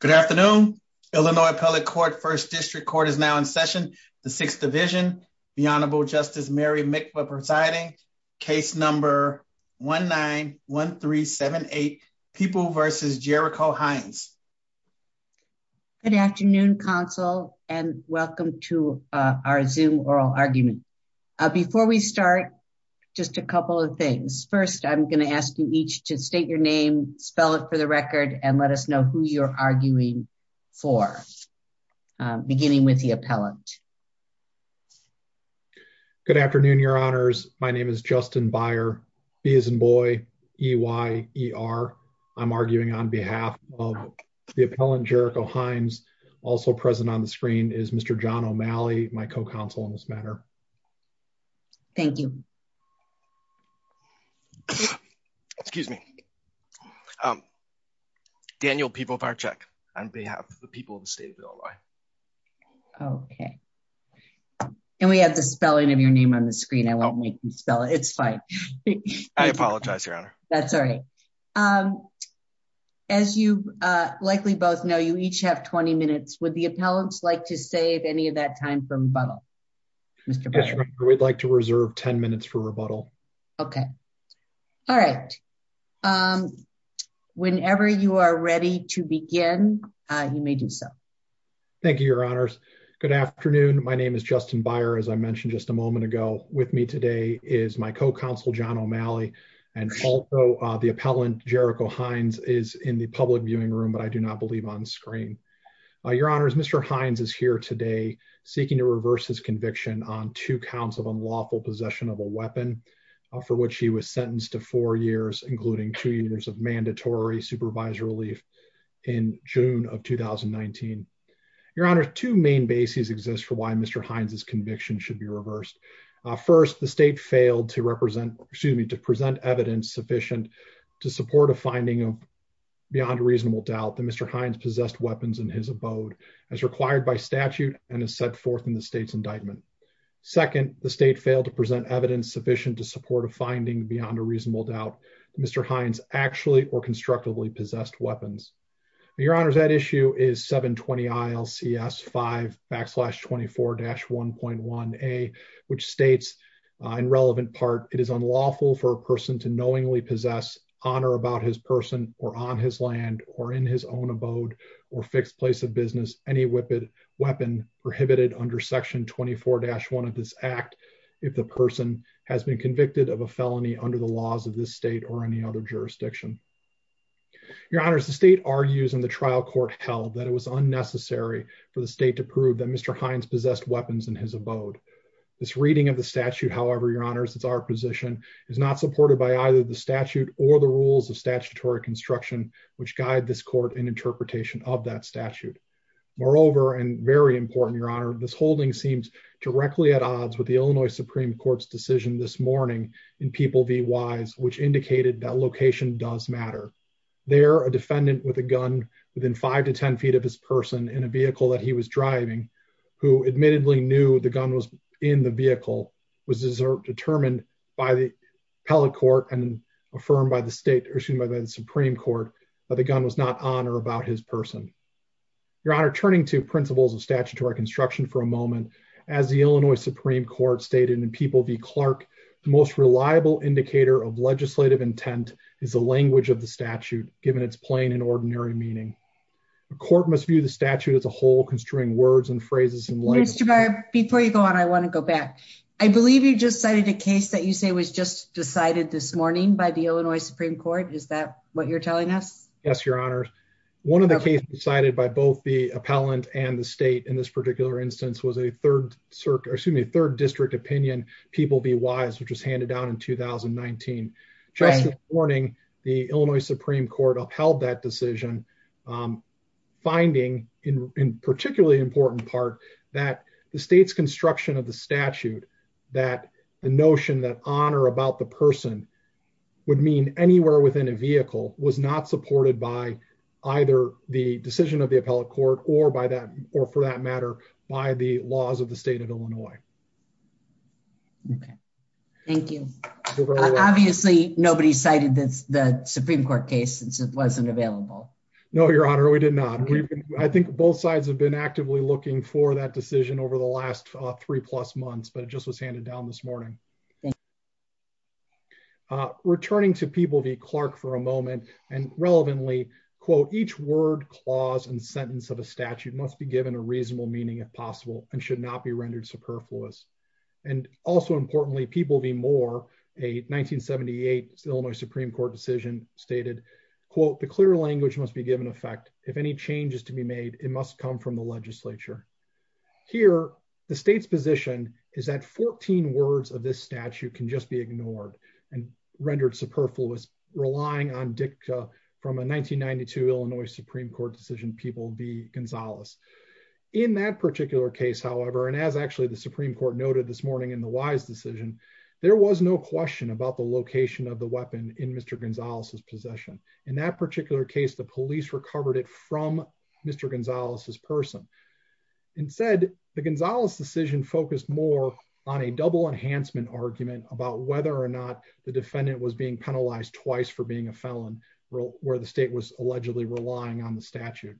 Good afternoon. Illinois Appellate Court, First District Court is now in session, the Sixth Division. The Honorable Justice Mary Mikva presiding, case number 1-9-1-3-7-8, People v. Jericho Hines. Good afternoon, counsel, and welcome to our Zoom Oral Argument. Before we start, just a couple of things. First, I'm gonna ask you each to state your name, spell it for the record, and let us know who you're arguing for, beginning with the appellant. Good afternoon, your honors. My name is Justin Beyer, B as in boy, E-Y-E-R. I'm arguing on behalf of the appellant Jericho Hines. Also present on the screen is Mr. John O'Malley, my co-counsel in this matter. Thank you. Excuse me. Daniel Pivovarczyk, on behalf of the people of the state of Illinois. Okay. And we have the spelling of your name on the screen. I won't make you spell it, it's fine. I apologize, your honor. That's all right. As you likely both know, you each have 20 minutes. Would the appellants like to save any of that time for rebuttal? Mr. Beyer. Yes, your honor, we'd like to reserve 10 minutes for rebuttal. Okay. All right. Whenever you are ready to begin, you may do so. Thank you, your honors. Good afternoon. My name is Justin Beyer, as I mentioned just a moment ago. With me today is my co-counsel, John O'Malley, and also the appellant Jericho Hines is in the public viewing room, but I do not believe on screen. Your honors, Mr. Hines is here today seeking to reverse his conviction on two counts of unlawful possession of a weapon for which he was sentenced to four years, including two years of mandatory supervisor relief in June of 2019. Your honor, two main bases exist for why Mr. Hines' conviction should be reversed. First, the state failed to represent, excuse me, to present evidence sufficient to support a finding beyond a reasonable doubt that Mr. Hines possessed weapons in his abode as required by statute and as set forth in the state's indictment. Second, the state failed to present evidence sufficient to support a finding beyond a reasonable doubt that Mr. Hines actually or constructively possessed weapons. Your honors, that issue is 720 ILCS 5 backslash 24-1.1a, which states in relevant part, it is unlawful for a person to knowingly possess on or about his person or on his land or in his own abode or fixed place of business, any weapon prohibited under section 24-1 of this act if the person has been convicted of a felony under the laws of this state or any other jurisdiction. Your honors, the state argues in the trial court held that it was unnecessary for the state to prove that Mr. Hines possessed weapons in his abode. This reading of the statute, however, your honors, it's our position, is not supported by either the statute or the rules of statutory construction, which guide this court in interpretation of that statute. Moreover, and very important, your honor, this holding seems directly at odds with the Illinois Supreme Court's decision this morning in People v. Wise, which indicated that location does matter. There, a defendant with a gun within five to 10 feet of his person in a vehicle that he was driving, who admittedly knew the gun was in the vehicle, was determined by the appellate court and affirmed by the state, excuse me, by the Supreme Court, that the gun was not on or about his person. Your honor, turning to principles of statutory construction for a moment, as the Illinois Supreme Court stated in People v. Clark, the most reliable indicator of legislative intent is the language of the statute, given its plain and ordinary meaning. The court must view the statute as a whole, construing words and phrases and labels. Mr. Barrett, before you go on, I wanna go back. I believe you just cited a case that you say was just decided this morning by the Illinois Supreme Court. Is that what you're telling us? Yes, your honors. One of the cases decided by both the appellant and the state in this particular instance was a third district opinion, People v. Wise, which was handed down in 2019. Just this morning, the Illinois Supreme Court upheld that decision, finding in particularly important part that the state's construction of the statute, that the notion that on or about the person would mean anywhere within a vehicle was not supported by either the decision of the appellate court or for that matter, by the laws of the state of Illinois. Okay. Thank you. Obviously, nobody cited the Supreme Court case since it wasn't available. No, your honor, we did not. I think both sides have been actively looking for that decision over the last three plus months, but it just was handed down this morning. Thank you. Returning to People v. Clark for a moment and relevantly, quote, each word clause and sentence of a statute must be given a reasonable meaning if possible and should not be rendered superfluous. And also importantly, People v. Moore, a 1978 Illinois Supreme Court decision stated, quote, the clear language must be given effect. If any change is to be made, it must come from the legislature. Here, the state's position is that 14 words of this statute can just be ignored and rendered superfluous relying on dicta from a 1992 Illinois Supreme Court decision, People v. Gonzalez. In that particular case, however, and as actually the Supreme Court noted this morning in the Wise decision, there was no question about the location of the weapon in Mr. Gonzalez's possession. In that particular case, the police recovered it from Mr. Gonzalez's person. Instead, the Gonzalez decision focused more on a double enhancement argument about whether or not the defendant was being penalized twice for being a felon where the state was allegedly relying on the statute.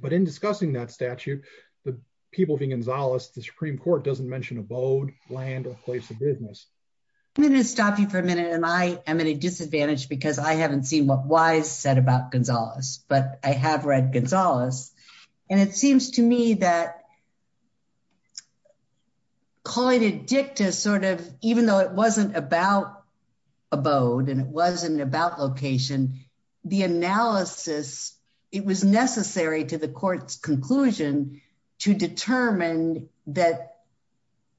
But in discussing that statute, the People v. Gonzalez, the Supreme Court doesn't mention abode, land, or place of business. I'm gonna stop you for a minute. And I am at a disadvantage because I haven't seen what Wise said about Gonzalez, but I have read Gonzalez. And it seems to me that calling it dicta sort of, even though it wasn't about abode and it wasn't about location, the analysis, it was necessary to the court's conclusion to determine that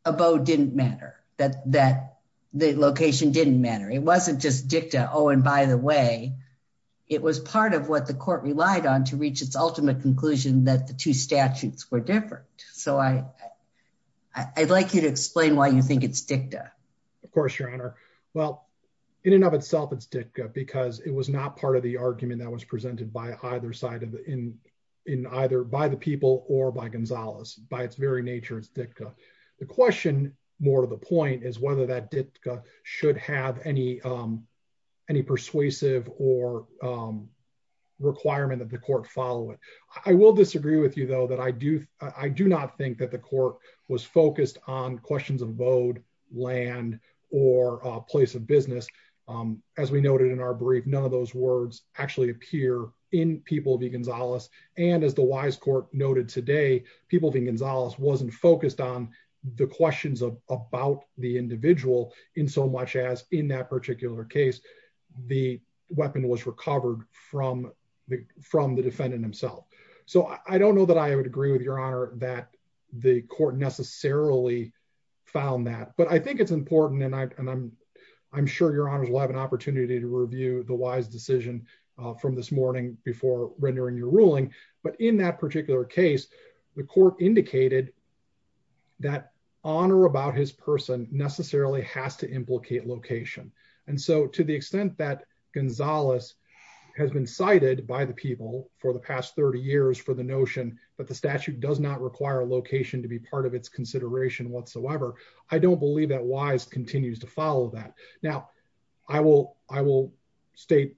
abode didn't matter, that the location didn't matter. It wasn't just dicta, oh, and by the way, it was part of what the court relied on to reach its ultimate conclusion that the two statutes were different. So I'd like you to explain why you think it's dicta. Of course, Your Honor. Well, in and of itself, it's dicta because it was not part of the argument that was presented by either side of the, in either by the People or by Gonzalez. By its very nature, it's dicta. The question more to the point is whether that dicta should have any persuasive or requirement that the court follow it. I will disagree with you though, that I do not think that the court was focused on questions of abode, land, or a place of business. As we noted in our brief, none of those words actually appear in People v. Gonzalez. And as the Wise Court noted today, People v. Gonzalez wasn't focused on the questions about the individual in so much as in that particular case, the weapon was recovered from the defendant himself. So I don't know that I would agree with Your Honor that the court necessarily found that, but I think it's important. And I'm sure Your Honors will have an opportunity to review the Wise decision from this morning before rendering your ruling. But in that particular case, the court indicated that honor about his person necessarily has to implicate location. And so to the extent that Gonzalez has been cited by the People for the past 30 years for the notion that the statute does not require a location to be part of its consideration whatsoever, I don't believe that Wise continues to follow that. Now, I will state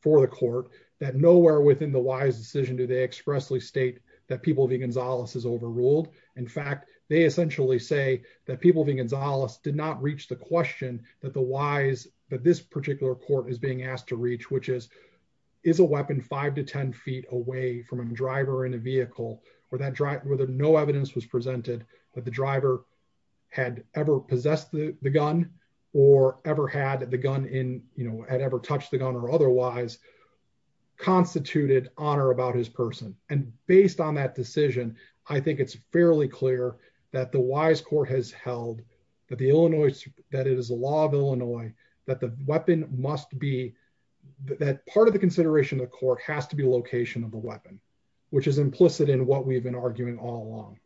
for the court that nowhere within the Wise decision do they expressly state that People v. Gonzalez is overruled. In fact, they essentially say that People v. Gonzalez did not reach the question that the Wise, that this particular court is being asked to reach, which is, is a weapon five to 10 feet away from a driver in a vehicle where no evidence was presented, that the driver had ever possessed the gun or ever had the gun in, had ever touched the gun or otherwise constituted honor about his person. And based on that decision, I think it's fairly clear that the Wise court has held that the Illinois, that it is a law of Illinois that the weapon must be, that part of the consideration of the court has to be location of the weapon, which is implicit in what we've been arguing all along.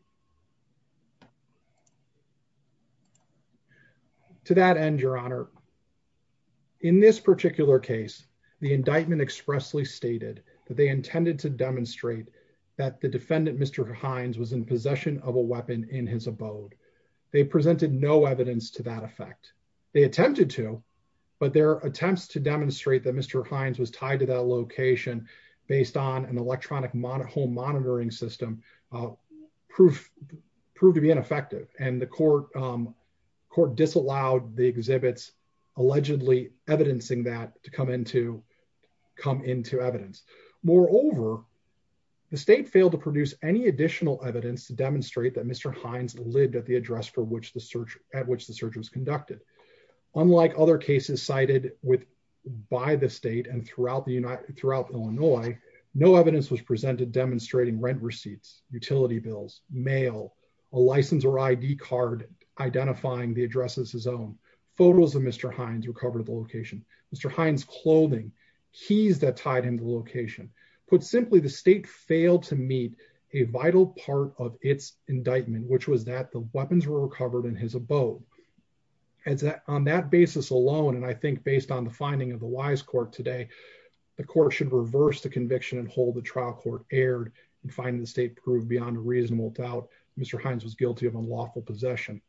To that end, Your Honor, in this particular case, the indictment expressly stated that they intended to demonstrate that the defendant, Mr. Hines, was in possession of a weapon in his abode. They presented no evidence to that effect. They attempted to, but their attempts to demonstrate that Mr. Hines was tied to that location based on an electronic home monitoring system, proved to be ineffective. And the court disallowed the exhibits, allegedly evidencing that to come into evidence. Moreover, the state failed to produce any additional evidence to demonstrate that Mr. Hines lived at the address for which the search, at which the search was conducted. Unlike other cases cited by the state and throughout Illinois, no evidence was presented demonstrating rent receipts, utility bills, mail, a license or ID card identifying the address as his own. Photos of Mr. Hines were covered at the location. Mr. Hines' clothing, keys that tied him to the location. Put simply, the state failed to meet a vital part of its indictment, which was that the weapons were recovered in his abode. And on that basis alone, and I think based on the finding of the Wise Court today, the court should reverse the conviction and hold the trial court aired and find the state proved beyond a reasonable doubt, Mr. Hines was guilty of unlawful possession.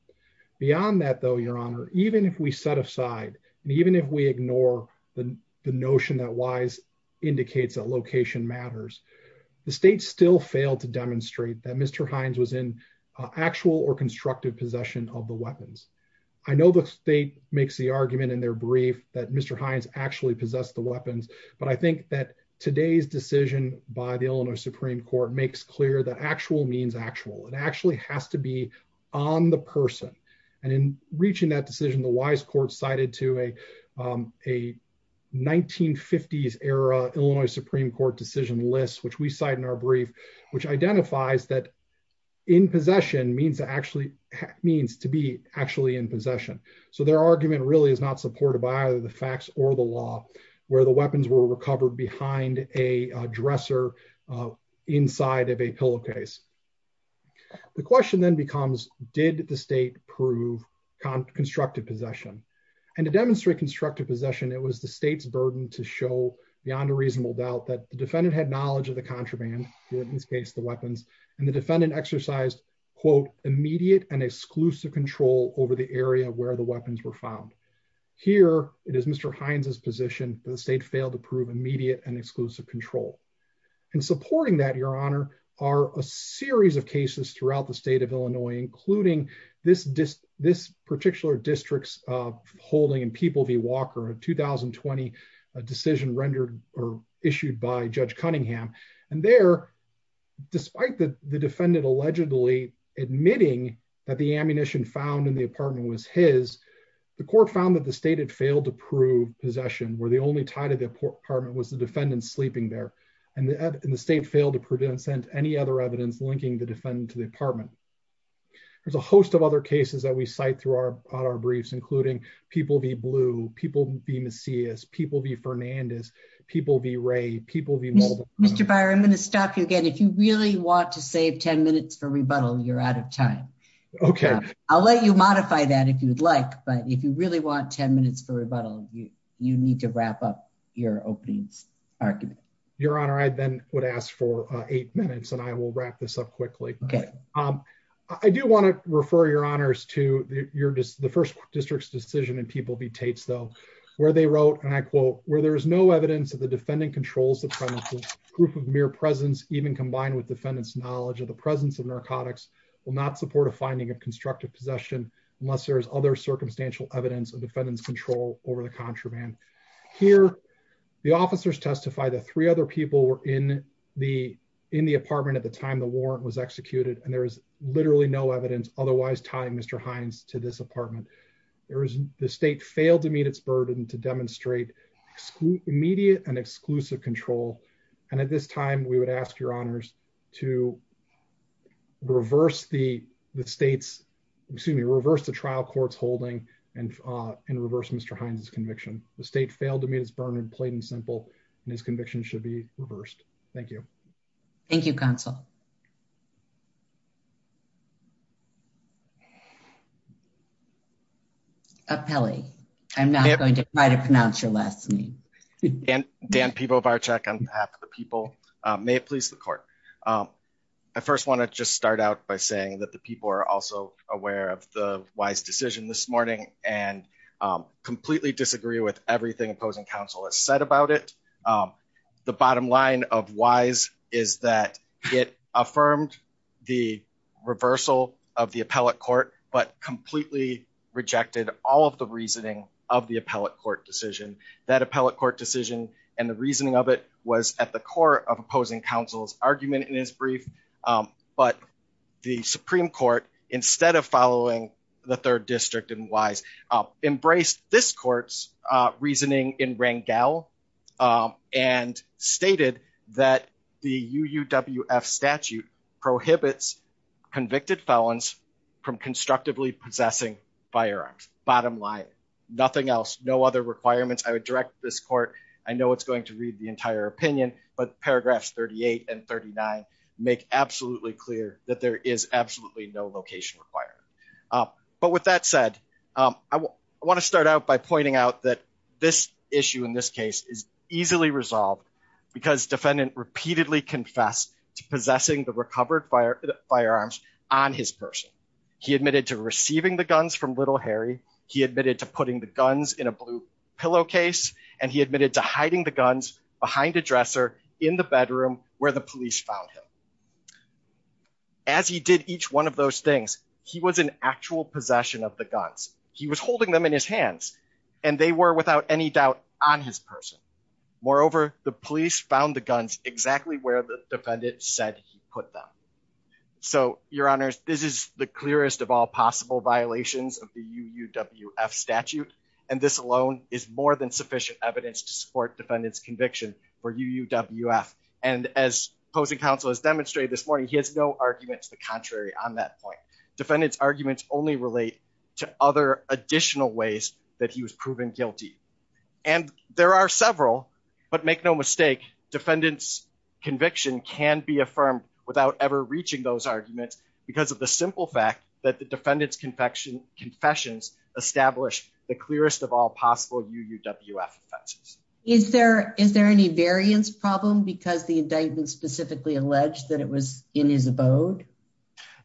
Beyond that though, your honor, even if we set aside and even if we ignore the notion that Wise indicates that location matters, the state still failed to demonstrate that Mr. Hines was in actual or constructive possession of the weapons. I know the state makes the argument in their brief that Mr. Hines actually possessed the weapons, but I think that today's decision by the Illinois Supreme Court makes clear that actual means actual. It actually has to be on the person. And in reaching that decision, the Wise Court cited to a 1950s era Illinois Supreme Court decision list, which we cite in our brief, which identifies that in possession means to be actually in possession. So their argument really is not supported by either the facts or the law where the weapons were recovered behind a dresser inside of a pillowcase. The question then becomes, did the state prove constructive possession? And to demonstrate constructive possession, it was the state's burden to show beyond a reasonable doubt that the defendant had knowledge of the contraband, in this case, the weapons, and the defendant exercised, quote, immediate and exclusive control over the area where the weapons were found. Here, it is Mr. Hines's position that the state failed to prove immediate and exclusive control. And supporting that, Your Honor, are a series of cases throughout the state of Illinois, including this particular district's holding in People v. Walker, a 2020 decision rendered or issued by Judge Cunningham. And there, despite the defendant allegedly admitting that the ammunition found in the apartment was his, the court found that the state had failed to prove possession, where the only tie to the apartment was the defendant sleeping there. And the state failed to present any other evidence linking the defendant to the apartment. There's a host of other cases that we cite throughout our briefs, including People v. Blue, People v. Macias, People v. Fernandez, People v. Ray, People v. Mulder. Mr. Beyer, I'm gonna stop you again. If you really want to save 10 minutes for rebuttal, you're out of time. Okay. I'll let you modify that if you'd like, but if you really want 10 minutes for rebuttal, you need to wrap up your opening argument. Your Honor, I then would ask for eight minutes and I will wrap this up quickly. Okay. I do wanna refer Your Honors to the first district's decision in People v. Tate's though, where they wrote, and I quote, where there is no evidence that the defendant controls the premises, proof of mere presence, even combined with defendant's knowledge of the presence of narcotics, will not support a finding of constructive possession unless there's other circumstantial evidence of defendant's control over the contraband. Here, the officers testify that three other people were in the apartment at the time the warrant was executed, and there is literally no evidence otherwise tying Mr. Hines to this apartment. The state failed to meet its burden to demonstrate immediate and exclusive control. And at this time, we would ask Your Honors to reverse the state's, excuse me, reverse the trial court's holding and reverse Mr. Hines' conviction. The state failed to meet its burden in plain and simple, and his conviction should be reversed. Thank you. Thank you, counsel. Apelli, I'm not going to try to pronounce your last name. Dan Pibovarczyk on behalf of the people. May it please the court. I first want to just start out by saying that the people are also aware of the Wise decision this morning and completely disagree with everything opposing counsel has said about it. The bottom line of Wise is that it affirmed the reversal of the appellate court, but completely rejected all of the reasoning of the appellate court decision. That appellate court decision and the reasoning of it was at the core of opposing counsel's argument in his brief, but the Supreme Court, instead of following the third district in Wise, embraced this court's reasoning in Rangel and stated that the UUWF statute prohibits convicted felons from constructively possessing firearms. Bottom line, nothing else, no other requirements. I would direct this court, I know it's going to read the entire opinion, but paragraphs 38 and 39 make absolutely clear that there is absolutely no location requirement. But with that said, I want to start out by pointing out that this issue in this case is easily resolved because defendant repeatedly confessed to possessing the recovered firearms on his person. He admitted to receiving the guns from Little Harry, he admitted to putting the guns in a blue pillowcase, and he admitted to hiding the guns behind a dresser in the bedroom where the police found him. As he did each one of those things, he was in actual possession of the guns. He was holding them in his hands and they were without any doubt on his person. Moreover, the police found the guns exactly where the defendant said he put them. So your honors, this is the clearest of all possible violations of the UUWF statute, and this alone is more than sufficient evidence to support defendant's conviction for UUWF. And as opposing counsel has demonstrated this morning, he has no argument to the contrary on that point. Defendant's arguments only relate to other additional ways that he was proven guilty. And there are several, but make no mistake, defendant's conviction can be affirmed without ever reaching those arguments because of the simple fact that the defendant's confessions establish the clearest of all possible UUWF offenses. Is there any variance problem because the indictment specifically alleged that it was in his abode?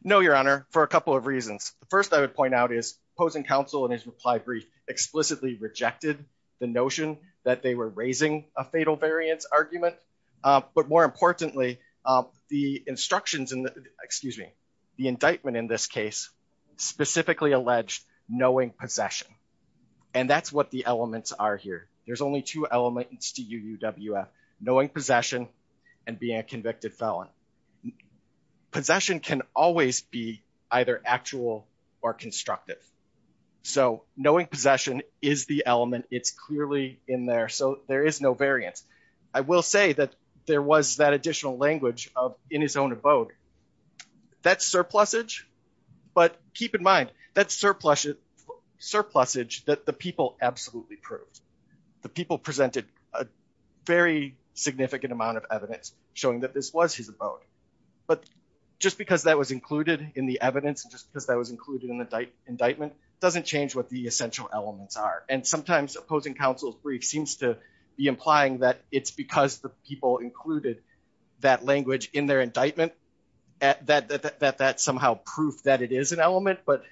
No, your honor, for a couple of reasons. The first I would point out is opposing counsel in his reply brief explicitly rejected the notion that they were raising a fatal variance argument, but more importantly, the instructions, excuse me, the indictment in this case specifically alleged that the defendant was in his own abode. And the second thing I would point out is knowing possession. And that's what the elements are here. There's only two elements to UUWF, knowing possession and being a convicted felon. Possession can always be either actual or constructive. So knowing possession is the element, it's clearly in there, so there is no variance. I will say that there was that additional language in his own abode. That's surplusage, but keep in mind, that's surplusage that the people absolutely proved. The people presented a very significant amount of evidence showing that this was his abode. But just because that was included in the evidence and just because that was included in the indictment doesn't change what the essential elements are. And sometimes opposing counsel's brief seems to be implying that it's because the people included that language in their indictment that that somehow proof that it is an element, but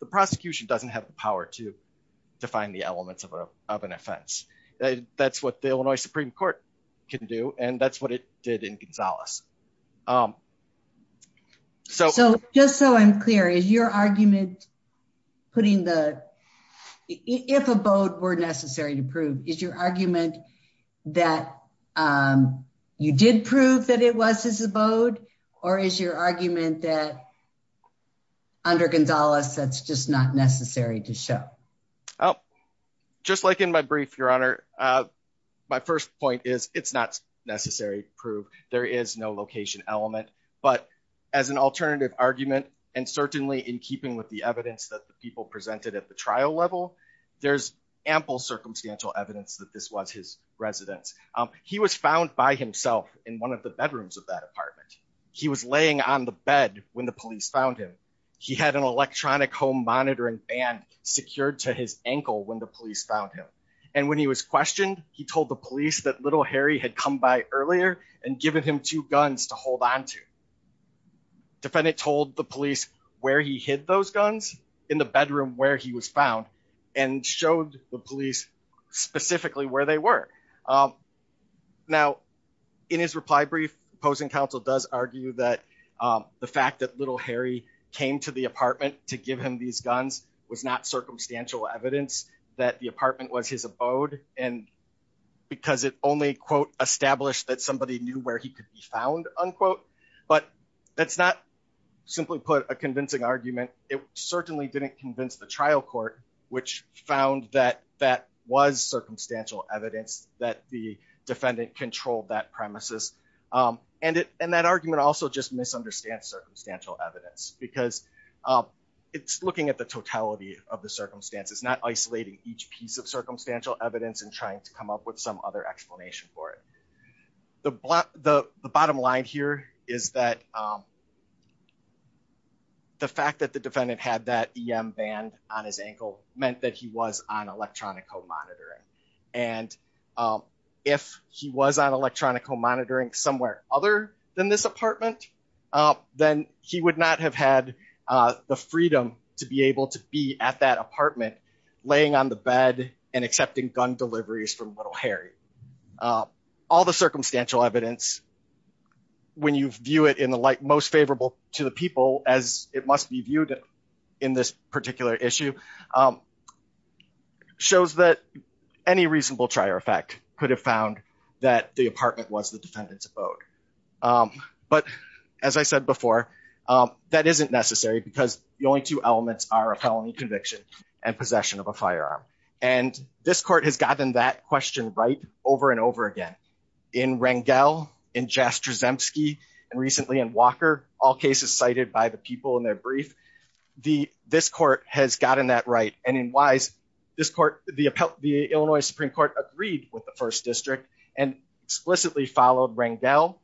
the prosecution doesn't have the power to define the elements of an offense. That's what the Illinois Supreme Court can do, and that's what it did in Gonzales. So- So just so I'm clear, is your argument putting the, if abode were necessary to prove, is your argument that you did prove that it was his abode or is your argument that under Gonzales, that's just not necessary to show? Oh, just like in my brief, Your Honor, my first point is it's not necessary to prove. There is no location element, but as an alternative argument, and certainly in keeping with the evidence that the people presented at the trial level, there's ample circumstantial evidence that this was his residence. He was found by himself in one of the bedrooms of that apartment. He was laying on the bed when the police found him. He had an electronic home monitoring band secured to his ankle when the police found him. And when he was questioned, he told the police that little Harry had come by earlier and given him two guns to hold onto. Defendant told the police where he hid those guns in the bedroom where he was found and showed the police specifically where they were. Now, in his reply brief, opposing counsel does argue that the fact that little Harry came to the apartment to give him these guns was not circumstantial evidence that the apartment was his abode and because it only, quote, established that somebody knew where he could be found, unquote. But that's not simply put a convincing argument. It certainly didn't convince the trial court, which found that that was circumstantial evidence that the defendant controlled that premises. And that argument also just misunderstands circumstantial evidence because it's looking at the totality of the circumstances, not isolating each piece of circumstantial evidence and trying to come up with some other explanation for it. The bottom line here is that the fact that the defendant had that EM band on his ankle meant that he was on electronic home monitoring. And if he was on electronic home monitoring somewhere other than this apartment, then he would not have had the freedom to be able to be at that apartment, laying on the bed and accepting gun deliveries from little Harry. All the circumstantial evidence, when you view it in the light most favorable to the people, as it must be viewed in this particular issue, shows that any reasonable trier effect could have found that the apartment was the defendant's abode. But as I said before, that isn't necessary because the only two elements are a felony conviction and possession of a firearm. And this court has gotten that question right over and over again. In Rangel, in Jastrzemski, and recently in Walker, all cases cited by the people in their brief, this court has gotten that right. And in Wise, the Illinois Supreme Court agreed with the First District and explicitly followed Rangel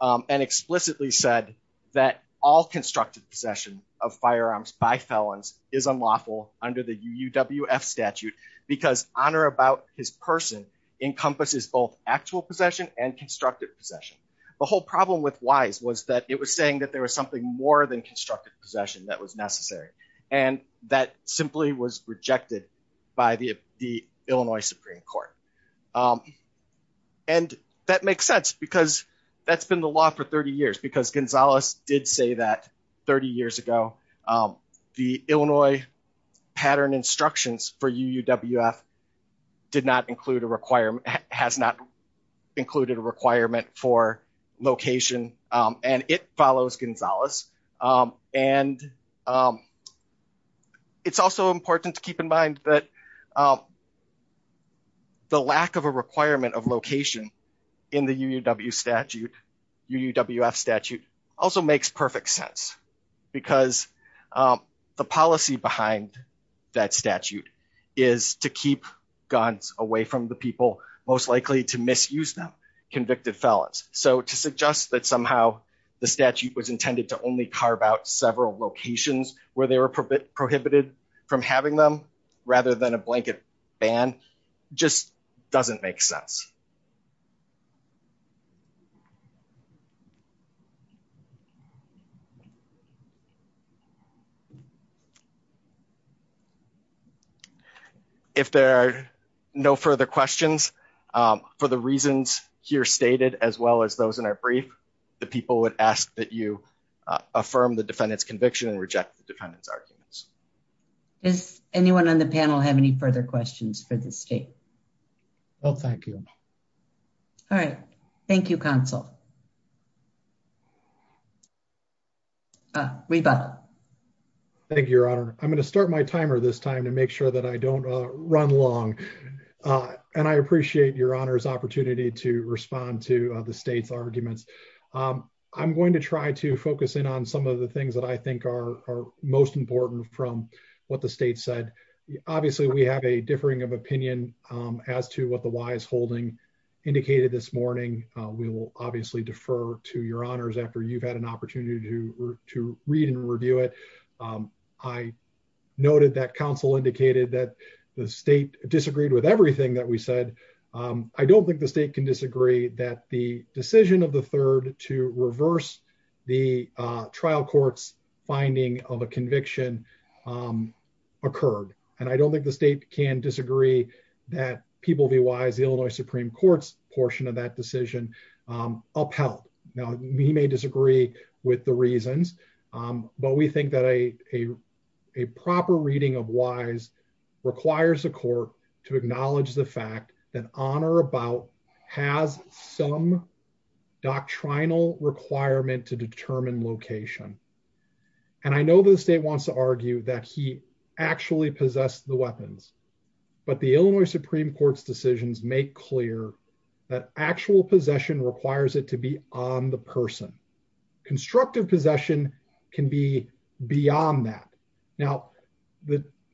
and explicitly said that all constructed possession of firearms by felons is unlawful under the UUWF statute because honor about his person encompasses both actual possession and constructed possession. The whole problem with Wise was that it was saying that there was something more than constructed possession that was necessary. And that simply was rejected by the Illinois Supreme Court. And that makes sense because that's been the law for 30 years because Gonzalez did say that 30 years ago, the Illinois pattern instructions for UUWF did not include a requirement, has not included a requirement for location and it follows Gonzalez. And it's also important to keep in mind that the lack of a requirement of location in the UUWF statute also makes perfect sense because the policy behind that statute is to keep guns away from the people most likely to misuse them, convicted felons. So to suggest that somehow the statute was intended to only carve out several locations where they were prohibited from having them rather than a blanket ban just doesn't make sense. If there are no further questions for the reasons here stated, as well as those in our brief, the people would ask that you affirm the defendant's conviction and reject the defendant's arguments. Does anyone on the panel have any further questions for the state? No, thank you. All right, thank you, counsel. Rebuttal. Thank you, Your Honor. I'm gonna start my timer this time to make sure that I don't run long. And I appreciate Your Honor's opportunity to respond to the state's arguments. I'm going to try to focus in on some of the things that I think are most important from what the state said. Obviously we have a differing of opinion as to what the wiseholding indicated this morning. We will obviously defer to Your Honors after you've had an opportunity to read and review it. I noted that counsel indicated that the state disagreed with everything that we said. I don't think the state can disagree that the decision of the third to reverse the trial court's finding of a conviction occurred. And I don't think the state can disagree that People v. Wise, the Illinois Supreme Court's portion of that decision upheld. Now, we may disagree with the reasons, but we think that a proper reading of Wise requires a court to acknowledge the fact that on or about has some doctrinal requirement to determine location. And I know the state wants to argue that he actually possessed the weapons, but the Illinois Supreme Court's decisions make clear that actual possession requires it to be on the person. Constructive possession can be beyond that. Now,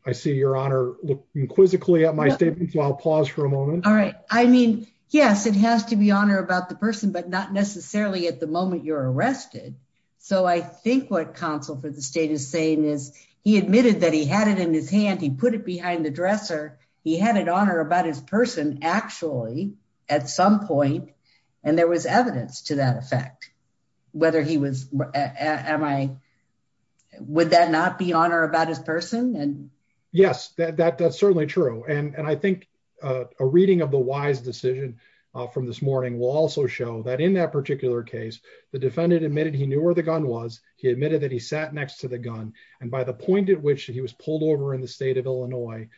I see Your Honor looking quizzically at my statement, so I'll pause for a moment. All right. I mean, yes, it has to be on or about the person, but not necessarily at the moment you're arrested. So I think what counsel for the state is saying is he admitted that he had it in his hand, he put it behind the dresser, he had it on or about his person actually at some point, and there was evidence to that effect. Would that not be on or about his person? Yes, that's certainly true. And I think a reading of the Wise decision from this morning will also show that in that particular case, the defendant admitted he knew where the gun was, he admitted that he sat next to the gun, and by the point at which he was pulled over in the state of Illinois,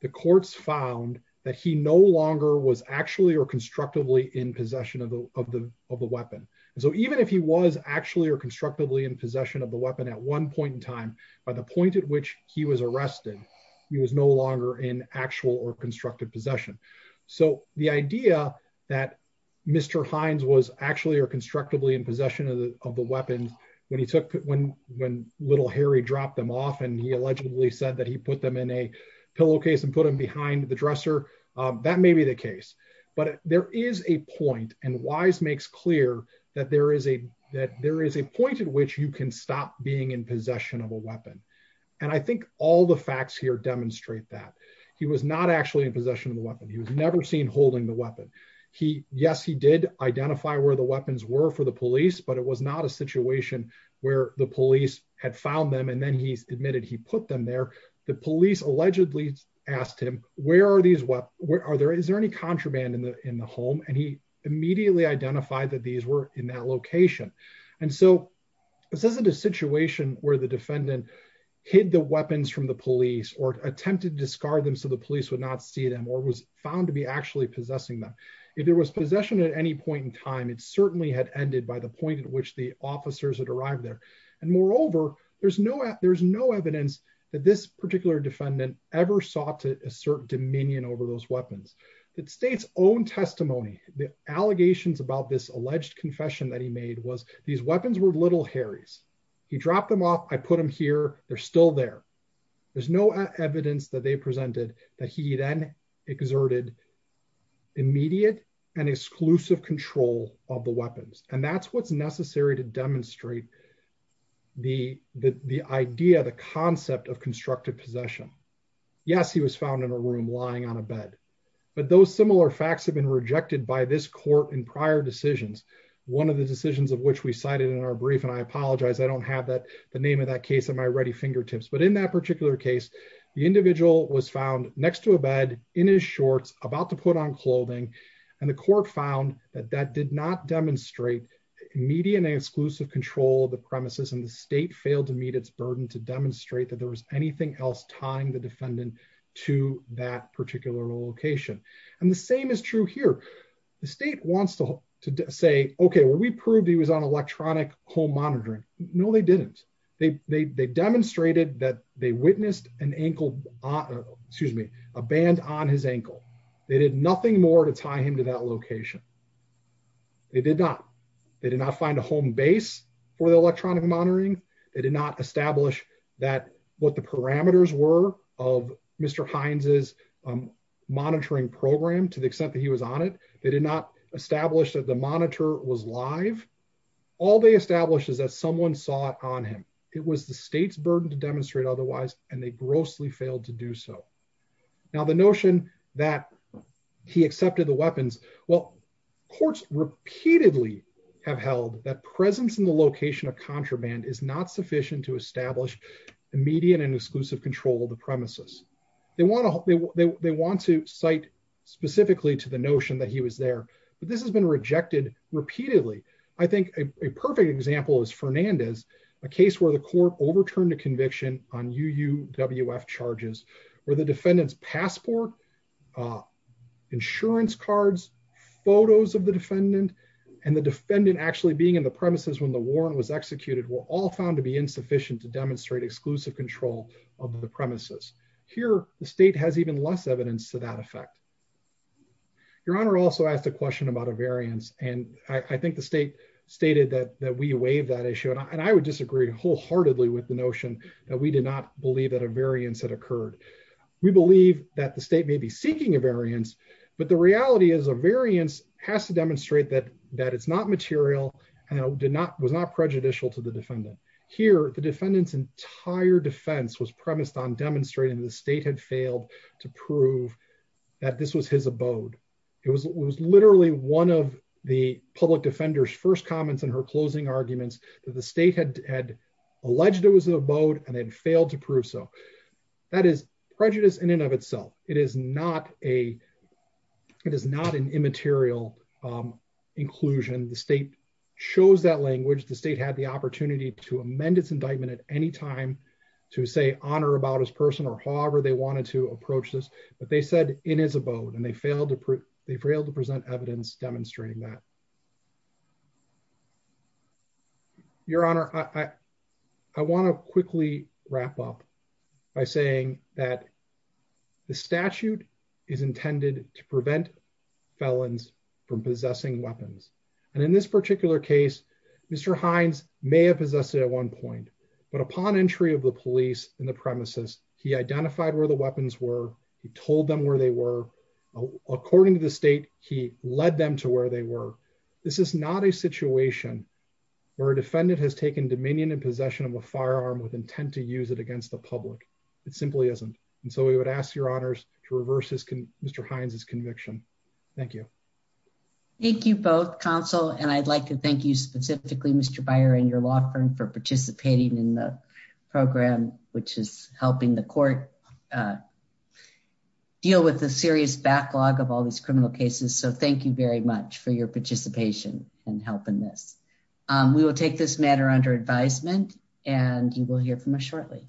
the courts found that he no longer was actually or constructively in possession of the weapon. And so even if he was actually or constructively in possession of the weapon at one point in time, by the point at which he was arrested, he was no longer in actual or constructed possession. So the idea that Mr. Hines was actually or constructively in possession of the weapon when little Harry dropped them off and he allegedly said that he put them in a pillowcase and put them behind the dresser, that may be the case. But there is a point, and Wise makes clear that there is a point at which you can stop being in possession of a weapon. And I think all the facts here demonstrate that. He was not actually in possession of the weapon. He was never seen holding the weapon. Yes, he did identify where the weapons were for the police, but it was not a situation where the police had found them and then he admitted he put them there. The police allegedly asked him, where are these weapons? Is there any contraband in the home? And he immediately identified that these were in that location. And so this isn't a situation where the defendant hid the weapons from the police or attempted to discard them so the police would not see them or was found to be actually possessing them. If there was possession at any point in time, it certainly had ended by the point at which the officers had arrived there. And moreover, there's no evidence that this particular defendant ever sought to assert dominion over those weapons. The state's own testimony, the allegations about this alleged confession that he made was these weapons were Little Harry's. He dropped them off. I put them here. They're still there. There's no evidence that they presented that he then exerted immediate and exclusive control of the weapons. And that's what's necessary to demonstrate the idea, the concept of constructive possession. Yes, he was found in a room lying on a bed, but those similar facts have been rejected by this court in prior decisions. One of the decisions of which we cited in our brief, and I apologize, I don't have the name of that case at my ready fingertips. But in that particular case, the individual was found next to a bed, in his shorts, about to put on clothing, and the court found that that did not demonstrate immediate and exclusive control of the premises and the state failed to meet its burden to demonstrate that there was anything else tying the defendant to that particular location. And the same is true here. The state wants to say, okay, well, we proved he was on electronic home monitoring. No, they didn't. They demonstrated that they witnessed an ankle, excuse me, a band on his ankle. They did nothing more to tie him to that location. They did not. They did not find a home base for the electronic monitoring. They did not establish that what the parameters were of Mr. Hines' monitoring program to the extent that he was on it. They did not establish that the monitor was live. All they established is that someone saw it on him. It was the state's burden to demonstrate otherwise, and they grossly failed to do so. Now, the notion that he accepted the weapons, well, courts repeatedly have held that presence in the location of contraband is not sufficient to establish immediate and exclusive control of the premises. They want to cite specifically to the notion that he was there, but this has been rejected repeatedly. I think a perfect example is Fernandez, a case where the court overturned a conviction on UUWF charges where the defendant's passport, insurance cards, photos of the defendant, and the defendant actually being in the premises when the warrant was executed were all found to be insufficient to demonstrate exclusive control of the premises. Here, the state has even less evidence to that effect. Your Honor also asked a question about a variance, and I think the state stated that we waive that issue, and I would disagree wholeheartedly with the notion that we did not believe that a variance had occurred. We believe that the state may be seeking a variance, but the reality is a variance has to demonstrate that it's not material and was not prejudicial to the defendant. Here, the defendant's entire defense was premised on demonstrating the state had failed to prove that this was his abode. It was literally one of the public defender's first comments in her closing arguments that the state had alleged it was an abode and they'd failed to prove so. That is prejudice in and of itself. It is not an immaterial inclusion. The state chose that language. The state had the opportunity to amend its indictment at any time to say honor about his person or however they wanted to approach this, but they said in his abode, and they failed to present evidence demonstrating that. Your Honor, I wanna quickly wrap up by saying that the statute is intended to prevent felons from possessing weapons. And in this particular case, Mr. Hines may have possessed it at one point, but upon entry of the police in the premises, he identified where the weapons were, he told them where they were. According to the state, he led them to where they were. This is not a situation where a defendant has taken dominion and possession of a firearm with intent to use it against the public. It simply isn't. And so we would ask your honors to reverse Mr. Hines' conviction. Thank you. Thank you both counsel. And I'd like to thank you specifically, Mr. Byer and your law firm for participating in the program, which is helping the court deal with the serious backlog of all these criminal cases. So thank you very much for your participation and help in this. We will take this matter under advisement and you will hear from us shortly.